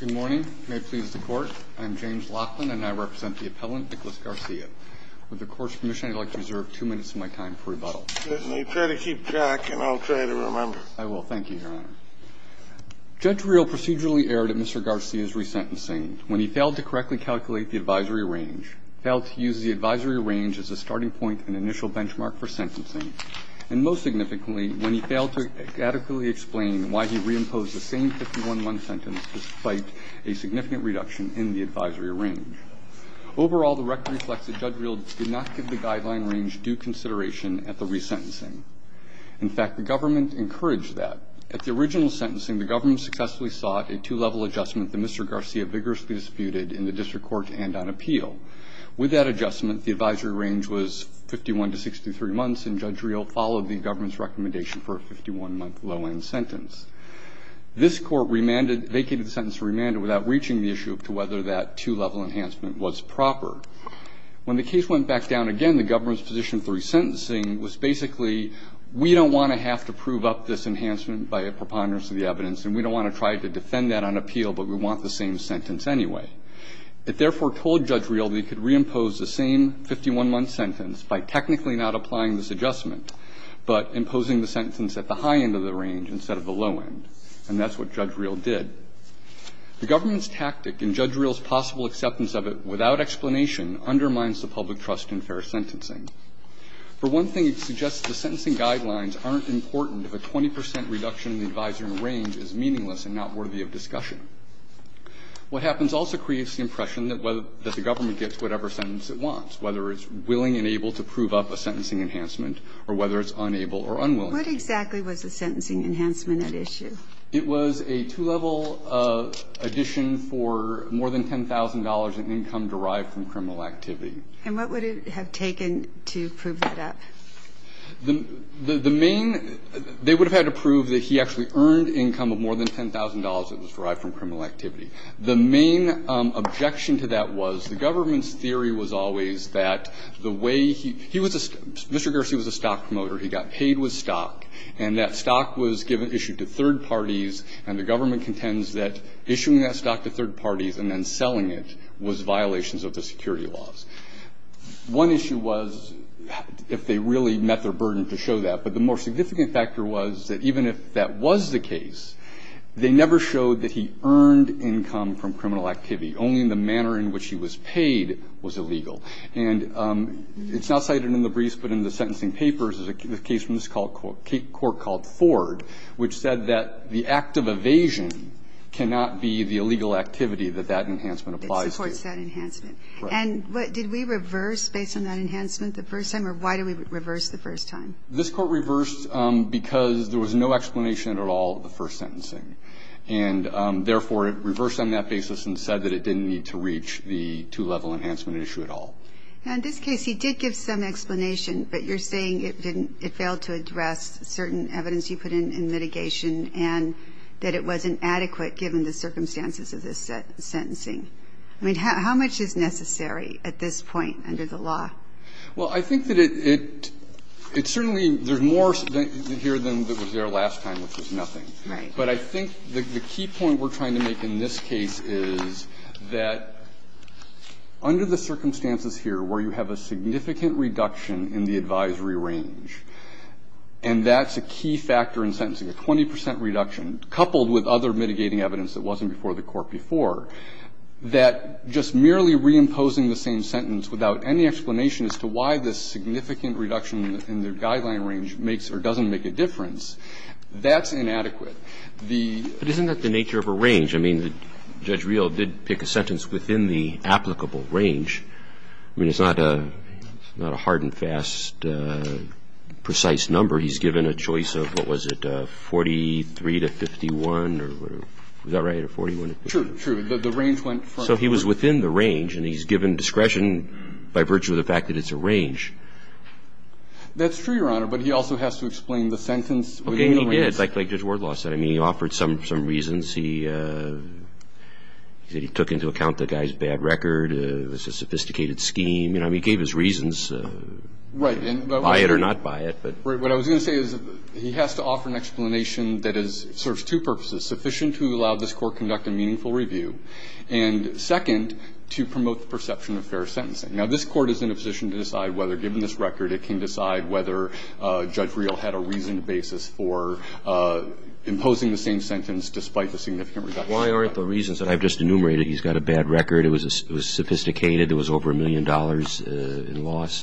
Good morning, may it please the Court. I am James Laughlin, and I represent the appellant, Nicholas Garcia. With the Court's permission, I'd like to reserve two minutes of my time for rebuttal. You try to keep track, and I'll try to remember. I will. Thank you, Your Honor. Judge Reel procedurally erred at Mr. Garcia's resentencing when he failed to correctly calculate the advisory range, failed to use the advisory range as a starting point and initial benchmark for sentencing, and most significantly, when he failed to adequately explain why he reimposed the same 51-1 sentence despite a significant reduction in the advisory range. Overall, the record reflects that Judge Reel did not give the guideline range due consideration at the resentencing. In fact, the government encouraged that. At the original sentencing, the government successfully sought a two-level adjustment that Mr. Garcia vigorously disputed in the District Court and on appeal. With that adjustment, the advisory range was 51 to 63 months, and Judge Reel followed the government's recommendation for a 51-month low-end sentence. This Court remanded, vacated the sentence to remand it without reaching the issue of whether that two-level enhancement was proper. When the case went back down again, the government's position for resentencing was basically, we don't want to have to prove up this enhancement by a preponderance of the evidence, and we don't want to try to defend that on appeal, but we want the same sentence anyway. It therefore told Judge Reel that he could reimpose the same 51-month sentence by technically not applying this adjustment, but imposing the sentence at the high end of the range instead of the low end. And that's what Judge Reel did. The government's tactic in Judge Reel's possible acceptance of it without explanation undermines the public trust in fair sentencing. For one thing, it suggests the sentencing guidelines aren't important if a 20 percent reduction in the advisory range is meaningless and not worthy of discussion. What happens also creates the impression that the government gets whatever sentence it wants, whether it's willing and able to prove up a sentencing enhancement or whether it's unable or unwilling. What exactly was the sentencing enhancement at issue? It was a two-level addition for more than $10,000 in income derived from criminal activity. And what would it have taken to prove that up? The main they would have had to prove that he actually earned income of more than $10,000 was derived from criminal activity. The main objection to that was the government's theory was always that the way he was a stock promoter, he got paid with stock, and that stock was given issued to third parties and the government contends that issuing that stock to third parties and then selling it was violations of the security laws. One issue was if they really met their burden to show that, but the more significant factor was that even if that was the case, they never showed that he earned income from criminal activity. Only the manner in which he was paid was illegal. And it's not cited in the briefs, but in the sentencing papers, there's a case from this court called Ford, which said that the act of evasion cannot be the illegal activity that that enhancement applies to. It supports that enhancement. Right. And did we reverse based on that enhancement the first time, or why did we reverse the first time? This court reversed because there was no explanation at all of the first sentencing. And, therefore, it reversed on that basis and said that it didn't need to reach the two-level enhancement issue at all. Now, in this case, he did give some explanation, but you're saying it didn't – it failed to address certain evidence you put in in mitigation and that it wasn't adequate given the circumstances of this sentencing. I mean, how much is necessary at this point under the law? Well, I think that it – it certainly – there's more here than was there last time, which was nothing. Right. But I think the key point we're trying to make in this case is that under the circumstances here where you have a significant reduction in the advisory range, and that's a key factor in sentencing, a 20 percent reduction, coupled with other mitigating evidence that wasn't before the court before, that just merely reimposing the same sentence without any explanation as to why this significant reduction in the guideline range makes or doesn't make a difference, that's inadequate. But isn't that the nature of a range? I mean, Judge Real did pick a sentence within the applicable range. I mean, it's not a hard and fast, precise number. He's given a choice of, what was it, 43 to 51, or is that right, or 41 to 51? True, true. The range went from the first. So he was within the range, and he's given discretion by virtue of the fact that it's a range. That's true, Your Honor, but he also has to explain the sentence within the range. Okay, and he did, like Judge Wardlaw said. I mean, he offered some reasons. He took into account the guy's bad record. It was a sophisticated scheme. You know, he gave his reasons by it or not by it. But what I was going to say is he has to offer an explanation that serves two purposes, sufficient to allow this Court to conduct a meaningful review, and sufficient second, to promote the perception of fair sentencing. Now, this Court is in a position to decide whether, given this record, it can decide whether Judge Real had a reasoned basis for imposing the same sentence despite the significant reduction. Why aren't the reasons that I've just enumerated, he's got a bad record, it was sophisticated, it was over a million dollars in loss,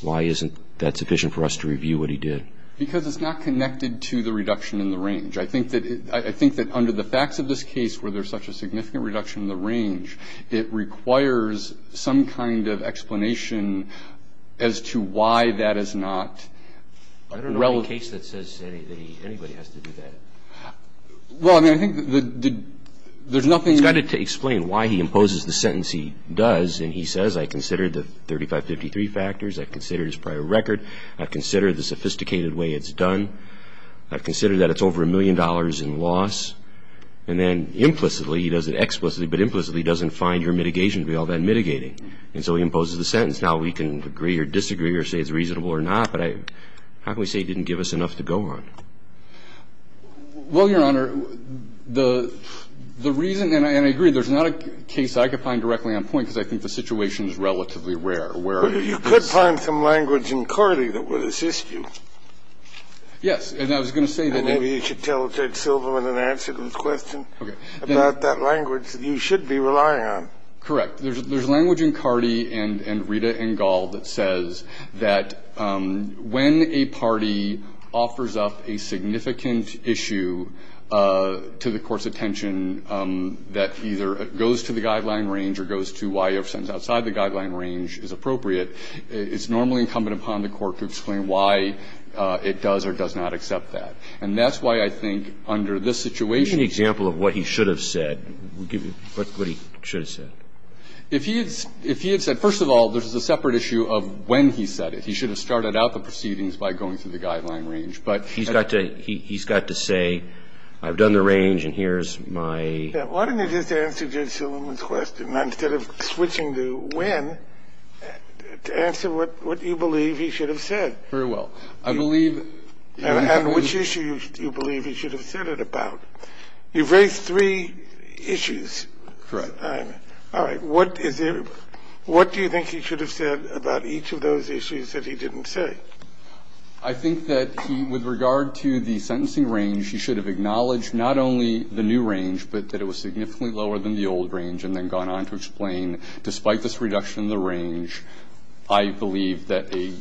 why isn't that sufficient for us to review what he did? Because it's not connected to the reduction in the range. I think that under the facts of this case where there's such a significant reduction in the range, it requires some kind of explanation as to why that is not relevant. I don't know of any case that says anybody has to do that. Well, I mean, I think there's nothing to explain why he imposes the sentence he does. And he says, I considered the 3553 factors, I considered his prior record, I've considered the sophisticated way it's done, I've considered that it's over a million dollars in loss. And then implicitly, he does it explicitly, but implicitly he doesn't find your mitigation to be all that mitigating. And so he imposes the sentence. Now we can agree or disagree or say it's reasonable or not, but I don't think he didn't give us enough to go on. Well, Your Honor, the reason, and I agree, there's not a case I could find directly on point because I think the situation is relatively rare where it's just a case of 置 If he had said, first of all, there's a separate issue of when he said it, he should have started out the proceedings by going through the guideline range, but... He's got to say, I've done the range and here's my... Why don't you just answer Judge Silverman's question instead of switching to when to answer what you believe he should have said. Very well. I believe... And which issue do you believe he should have said it about? You've raised three issues. Correct. All right. What is it — what do you think he should have said about each of those issues that he didn't say? I think that he, with regard to the sentencing range, he should have acknowledged not only the new range, but that it was significantly lower than the old range, and then gone on to explain, despite this reduction in the range, I believe that a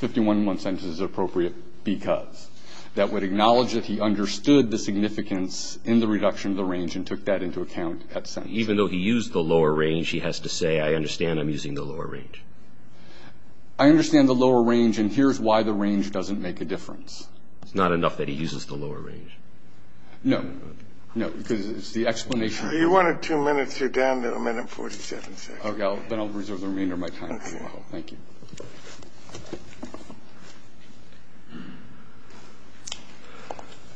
51-1 sentence is appropriate because that would acknowledge that he understood the significance in the reduction of the range and took that into account at sentencing. Even though he used the lower range, he has to say, I understand I'm using the lower range. I understand the lower range, and here's why the range doesn't make a difference. It's not enough that he uses the lower range. No. No, because it's the explanation... You wanted two minutes. You're down to a minute and 47 seconds. Okay, then I'll reserve the remainder of my time as well. Thank you.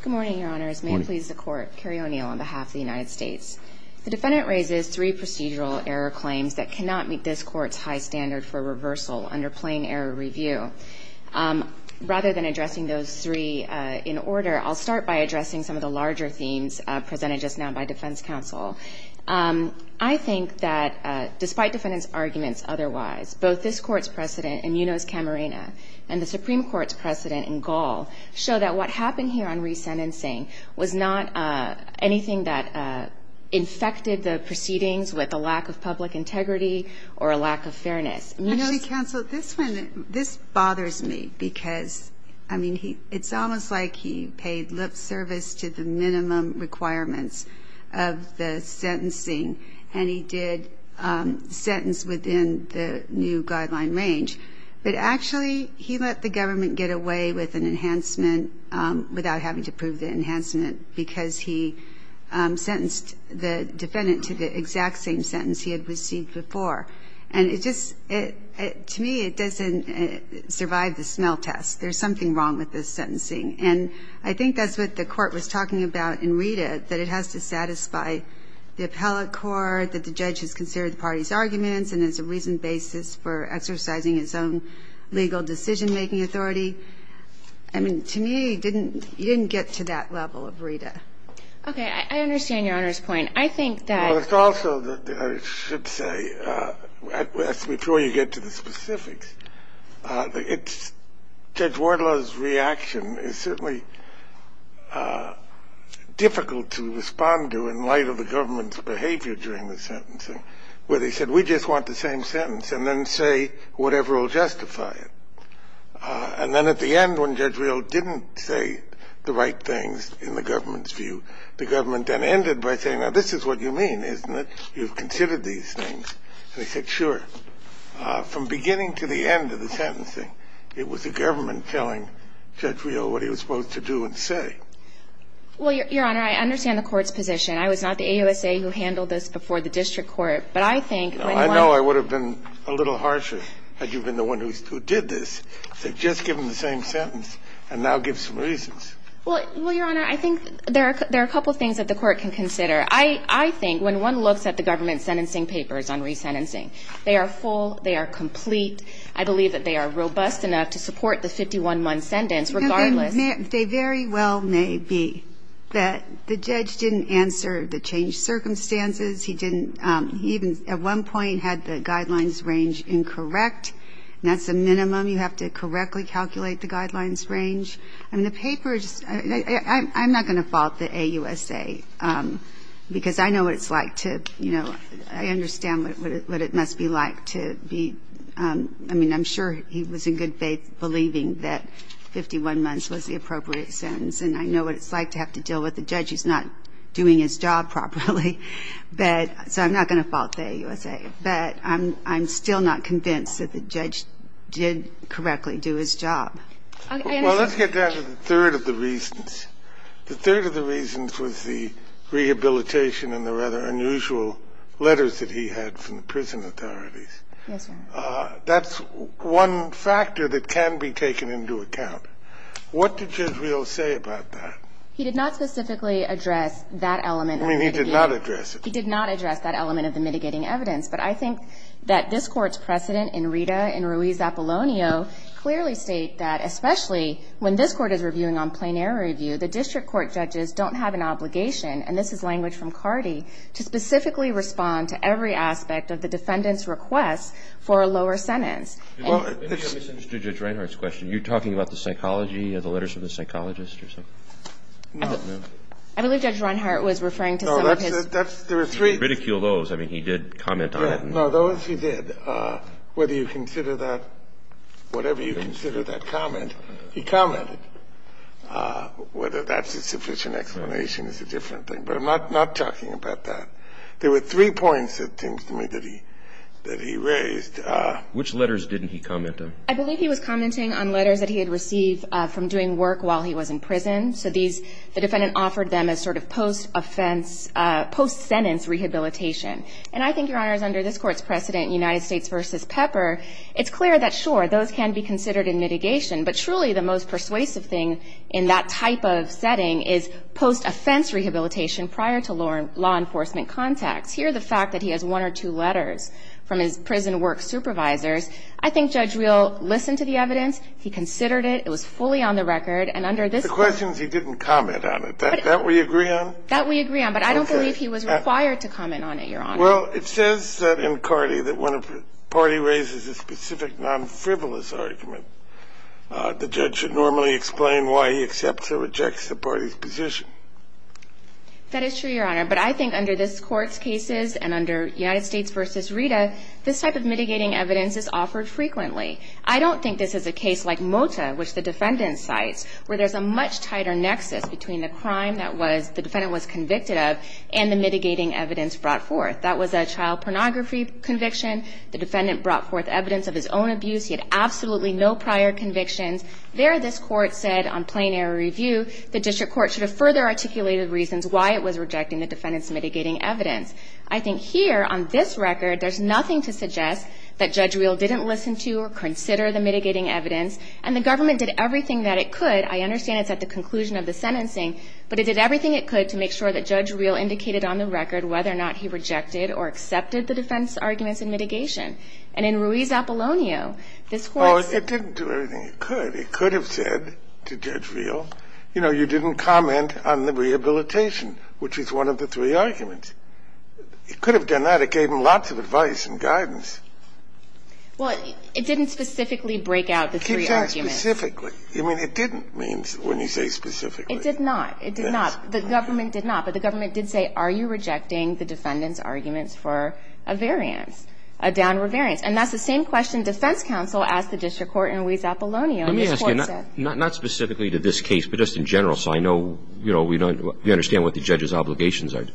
Good morning, Your Honors. May it please the Court. Kerry O'Neill on behalf of the United States. The defendant raises three procedural error claims that cannot meet this Court's high standard for reversal under plain error review. Rather than addressing those three in order, I'll start by addressing some of the larger themes presented just now by defense counsel. I think that despite defendant's arguments otherwise, both this Court's precedent in Munoz-Camarena and the Supreme Court's precedent in Gall show that what happened here on resentencing was not anything that infected the proceedings with a lack of public integrity or a lack of fairness. Munoz... Counsel, this bothers me because, I mean, it's almost like he paid lip service to the minimum requirements of the sentencing and he did sentence within the new guideline range, but actually he let the government get away with an enhancement without having to prove the enhancement because he sentenced the defendant to the exact same sentence he had received before. And it just... To me, it doesn't survive the smell test. There's something wrong with this sentencing. And I think that's what the Court was talking about in Rita, that it has to satisfy the appellate court, that the judge has considered the party's arguments and there's a reasoned basis for exercising his own legal decision-making authority. I mean, to me, you didn't get to that level of Rita. Okay. I understand Your Honor's point. I think that... Well, it's also that I should say, before you get to the specifics, it's Judge Rioux, it was certainly difficult to respond to in light of the government's behavior during the sentencing, where they said, we just want the same sentence and then say whatever will justify it. And then at the end, when Judge Rioux didn't say the right things in the government's view, the government then ended by saying, now this is what you mean, isn't it? You've considered these things. And they said, sure. From beginning to the end of the sentencing, it was the government telling Judge Rioux what he was supposed to do and say. Well, Your Honor, I understand the Court's position. I was not the AUSA who handled this before the district court. But I think when one... I know I would have been a little harsher had you been the one who did this, to just give him the same sentence and now give some reasons. Well, Your Honor, I think there are a couple of things that the Court can consider. I think when one looks at the government's sentencing papers on resentencing, they are full, they are complete. I believe that they are robust enough to support the 51-month sentence, regardless... They very well may be. The judge didn't answer the changed circumstances. He didn't... He even, at one point, had the guidelines range incorrect. And that's the minimum. You have to correctly calculate the guidelines range. I mean, the papers... I'm not going to fault the AUSA, because I know what it's like to... I mean, I'm sure he was in good faith believing that 51 months was the appropriate sentence. And I know what it's like to have to deal with a judge who's not doing his job properly. But... So I'm not going to fault the AUSA. But I'm still not convinced that the judge did correctly do his job. I understand. Well, let's get down to the third of the reasons. The third of the reasons was the rehabilitation and the rather unusual letters that he had from the prison authorities. Yes, Your Honor. That's one factor that can be taken into account. What did Judge Rios say about that? He did not specifically address that element of the mitigating... I mean, he did not address it. He did not address that element of the mitigating evidence. But I think that this Court's precedent in Rita and Ruiz-Apollonio clearly state that, especially when this Court is reviewing on plenary review, the district court judges don't have an obligation, and this is language from Cardi, to specifically respond to every aspect of the defendant's request for a lower sentence. Well, it's... I misunderstood Judge Reinhart's question. Are you talking about the psychology of the letters from the psychologist or something? No. I believe Judge Reinhart was referring to some of his... No, that's the three... If you ridicule those, I mean, he did comment on it. No, those he did. Whether you consider that, whatever you consider that comment, he commented. Whether that's a sufficient explanation is a different thing. But I'm not talking about that. There were three points, it seems to me, that he raised. Which letters didn't he comment on? I believe he was commenting on letters that he had received from doing work while he was in prison. So these, the defendant offered them as sort of post-offense, post-sentence rehabilitation. And I think, Your Honors, under this Court's precedent, United States v. Pepper, it's clear that, sure, those can be considered in mitigation. But truly, the most persuasive thing in that type of setting is post-offense rehabilitation prior to law enforcement contacts. Here, the fact that he has one or two letters from his prison work supervisors, I think Judge Real listened to the evidence. He considered it. It was fully on the record. And under this... The question is he didn't comment on it. That we agree on? That we agree on. But I don't believe he was required to comment on it, Your Honor. Well, it says that in CARDI that when a party raises a specific non-frivolous argument, the judge should normally explain why he accepts or rejects the party's position. That is true, Your Honor. But I think under this Court's cases and under United States v. Rita, this type of mitigating evidence is offered frequently. I don't think this is a case like Mota, which the defendant cites, where there's a much tighter nexus between the crime that the defendant was convicted of and the mitigating evidence brought forth. That was a child pornography conviction. The defendant brought forth evidence of his own abuse. He had absolutely no prior convictions. There, this Court said on plain error review, the District Court should have further articulated reasons why it was rejecting the defendant's mitigating evidence. I think here, on this record, there's nothing to suggest that Judge Real didn't listen to or consider the mitigating evidence. And the government did everything that it could. I understand it's at the conclusion of the sentencing. But it did everything it could to make sure that Judge Real indicated on the record whether or not he rejected or accepted the defense arguments and mitigation. And in Ruiz-Apollonio, this Court said… Oh, it didn't do everything it could. It could have said to Judge Real, you know, you didn't comment on the rehabilitation, which is one of the three arguments. It could have done that. It gave him lots of advice and guidance. Well, it didn't specifically break out the three arguments. It didn't say specifically. I mean, it didn't mean when you say specifically. It did not. It did not. The government did not. But the government did say, are you rejecting the defendant's arguments for a variance, a downer variance? And that's the same question defense counsel asked the District Court in Ruiz-Apollonio. Let me ask you, not specifically to this case, but just in general, so I know, you know, we understand what the judge's obligations are.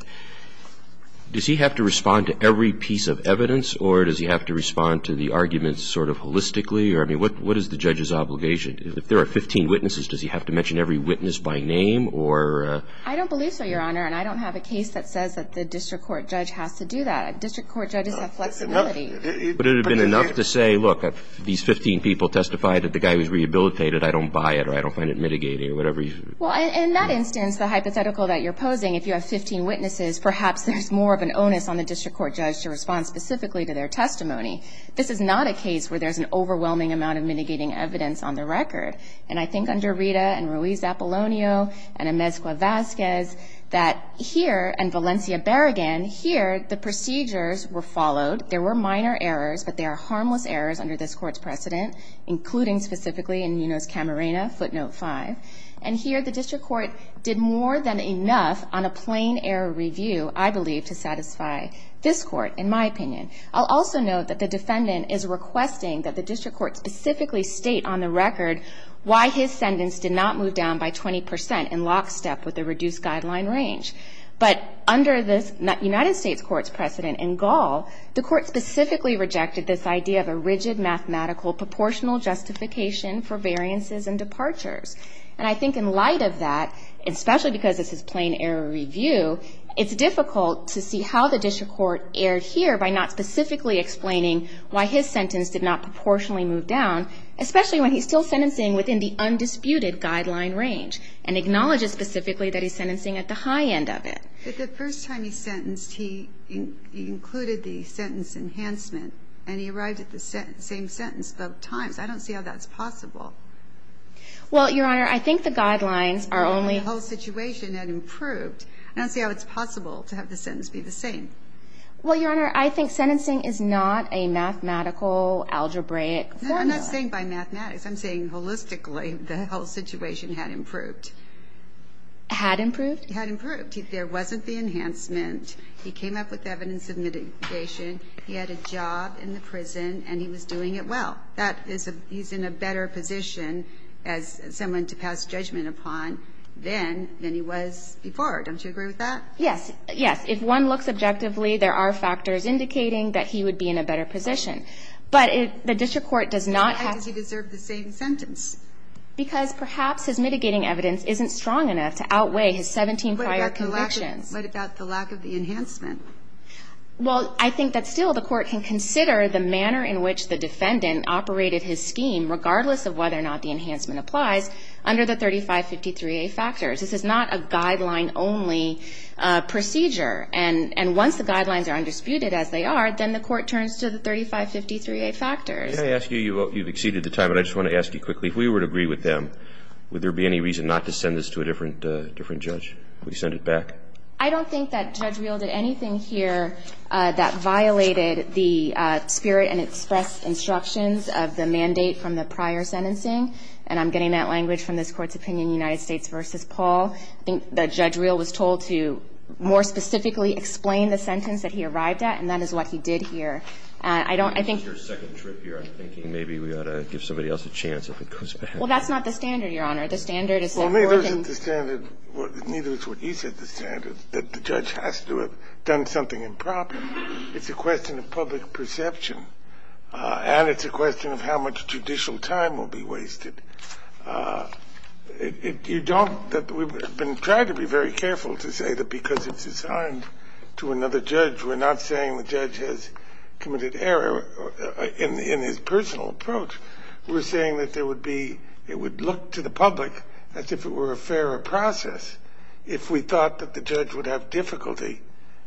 Does he have to respond to every piece of evidence, or does he have to respond to the arguments sort of holistically? I mean, what is the judge's obligation? If there are 15 witnesses, does he have to mention every witness by name, or? I don't believe so, Your Honor, and I don't have a case that says that the District Court judge has to do that. District Court judges have flexibility. But it would have been enough to say, look, these 15 people testified that the guy was rehabilitated. I don't buy it, or I don't find it mitigating, or whatever. Well, in that instance, the hypothetical that you're posing, if you have 15 witnesses, perhaps there's more of an onus on the District Court judge to respond specifically to their testimony. This is not a case where there's an overwhelming amount of mitigating evidence on the record. And I think under Rita, and Ruiz-Apollonio, and Amezcua-Vazquez, that here, and Valencia-Barrigan, here, the procedures were followed. There were minor errors, but there are harmless errors under this Court's precedent, including specifically in Nuno's Camarena, footnote 5. And here, the District Court did more than enough on a plain error review, I believe, to satisfy this Court, in my opinion. I'll also note that the defendant is requesting that the District Court specifically state on the record why his sentence did not move down by 20% in lockstep with the reduced guideline range. But under the United States Court's precedent in Gall, the Court specifically rejected this idea of a rigid mathematical proportional justification for variances and departures. And I think in light of that, especially because this is plain error review, it's difficult to see how the District Court erred here by not specifically explaining why his sentence did not proportionally move down, especially when he's still sentencing within the undisputed guideline range, and acknowledges specifically that he's sentencing at the high end of it. But the first time he sentenced, he included the sentence enhancement, and he arrived at the same sentence both times. I don't see how that's possible. Well, Your Honor, I think the guidelines are only... I don't see how it's possible to have the sentence be the same. Well, Your Honor, I think sentencing is not a mathematical, algebraic formula. No, I'm not saying by mathematics. I'm saying holistically the whole situation had improved. Had improved? Had improved. There wasn't the enhancement. He came up with evidence of mitigation. He had a job in the prison, and he was doing it well. He's in a better position as someone to pass judgment upon than he was before. Don't you agree with that? Yes. Yes. If one looks objectively, there are factors indicating that he would be in a better position. But the district court does not have... Why does he deserve the same sentence? Because perhaps his mitigating evidence isn't strong enough to outweigh his 17 prior convictions. What about the lack of the enhancement? Well, I think that still the court can consider the manner in which the defendant operated his scheme, regardless of whether or not the enhancement applies, under the 3553A factors. This is not a guideline-only procedure. And once the guidelines are undisputed, as they are, then the court turns to the 3553A factors. May I ask you, you've exceeded the time, but I just want to ask you quickly, if we were to agree with them, would there be any reason not to send this to a different judge? Would you send it back? I don't think that Judge Real did anything here that violated the spirit and expressed instructions of the mandate from the prior sentencing. And I'm getting that language from this Court's opinion, United States v. Paul. I think that Judge Real was told to more specifically explain the sentence that he arrived at, and that is what he did here. I don't think... This is your second trip here. I'm thinking maybe we ought to give somebody else a chance if it goes bad. Well, that's not the standard, Your Honor. The standard is... Well, neither is it the standard, neither is what he said the standard, that the judge has to have done something improper. It's a question of public perception, and it's a question of how much judicial time will be wasted. You don't... We've been trying to be very careful to say that because it's assigned to another judge, we're not saying the judge has committed error in his personal approach. We're saying that there would be... It would look to the public as if it were a fairer process if we thought that the judge would have difficulty,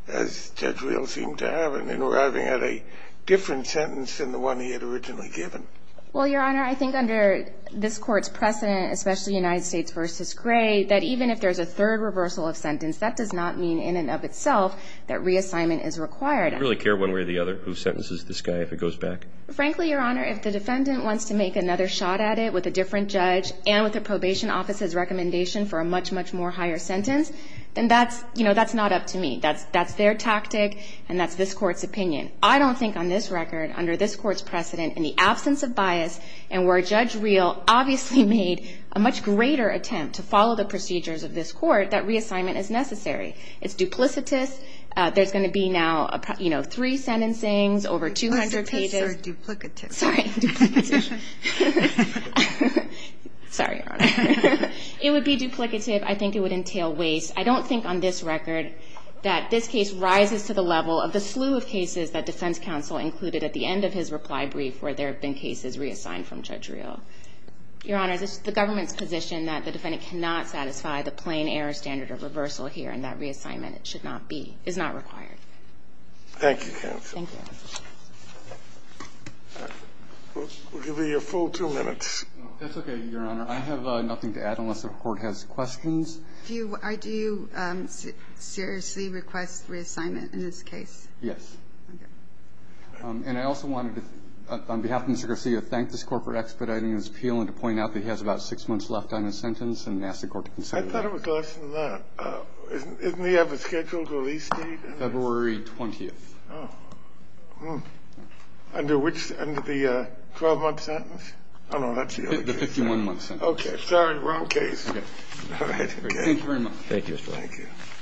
as Judge Real seemed to have, in arriving at a different sentence than the one he had originally given. Well, Your Honor, I think under this Court's precedent, especially United States v. Gray, that even if there's a third reversal of sentence, that does not mean in and of itself that reassignment is required. You really care one way or the other who sentences this guy if it goes back? Frankly, Your Honor, if the defendant wants to make another shot at it with a different judge and with the probation office's recommendation for a much, much more higher sentence, then that's, you know, that's not up to me. That's their tactic, and that's this Court's opinion. I don't think on this record, under this Court's precedent, in the absence of bias and where Judge Real obviously made a much greater attempt to follow the procedures of this Court, that reassignment is necessary. It's duplicitous. There's going to be now, you know, three sentencings, over 200 pages. Duplicitous or duplicative? Sorry. Duplication. Sorry, Your Honor. It would be duplicative. I think it would entail waste. I don't think on this record that this case rises to the level of the slew of cases that defense counsel included at the end of his reply brief where there have been cases reassigned from Judge Real. Your Honor, it's the government's position that the defendant cannot satisfy the plain error standard of reversal here, and that reassignment should not be, is not required. Thank you, counsel. Thank you. We'll give you your full two minutes. That's okay, Your Honor. I have nothing to add unless the Court has questions. Do you seriously request reassignment in this case? Yes. Okay. And I also wanted to, on behalf of Mr. Garcia, thank this Court for expediting his appeal and to point out that he has about six months left on his sentence and ask the Court to consider that. I thought it was less than that. Isn't he ever scheduled to release the case? February 20th. Oh. Under which? Under the 12-month sentence? I don't know. The 51-month sentence. Okay. Sorry, wrong case. All right. Thank you very much. Thank you, Mr. Wright. Thank you. Thank you. That's the one. All right.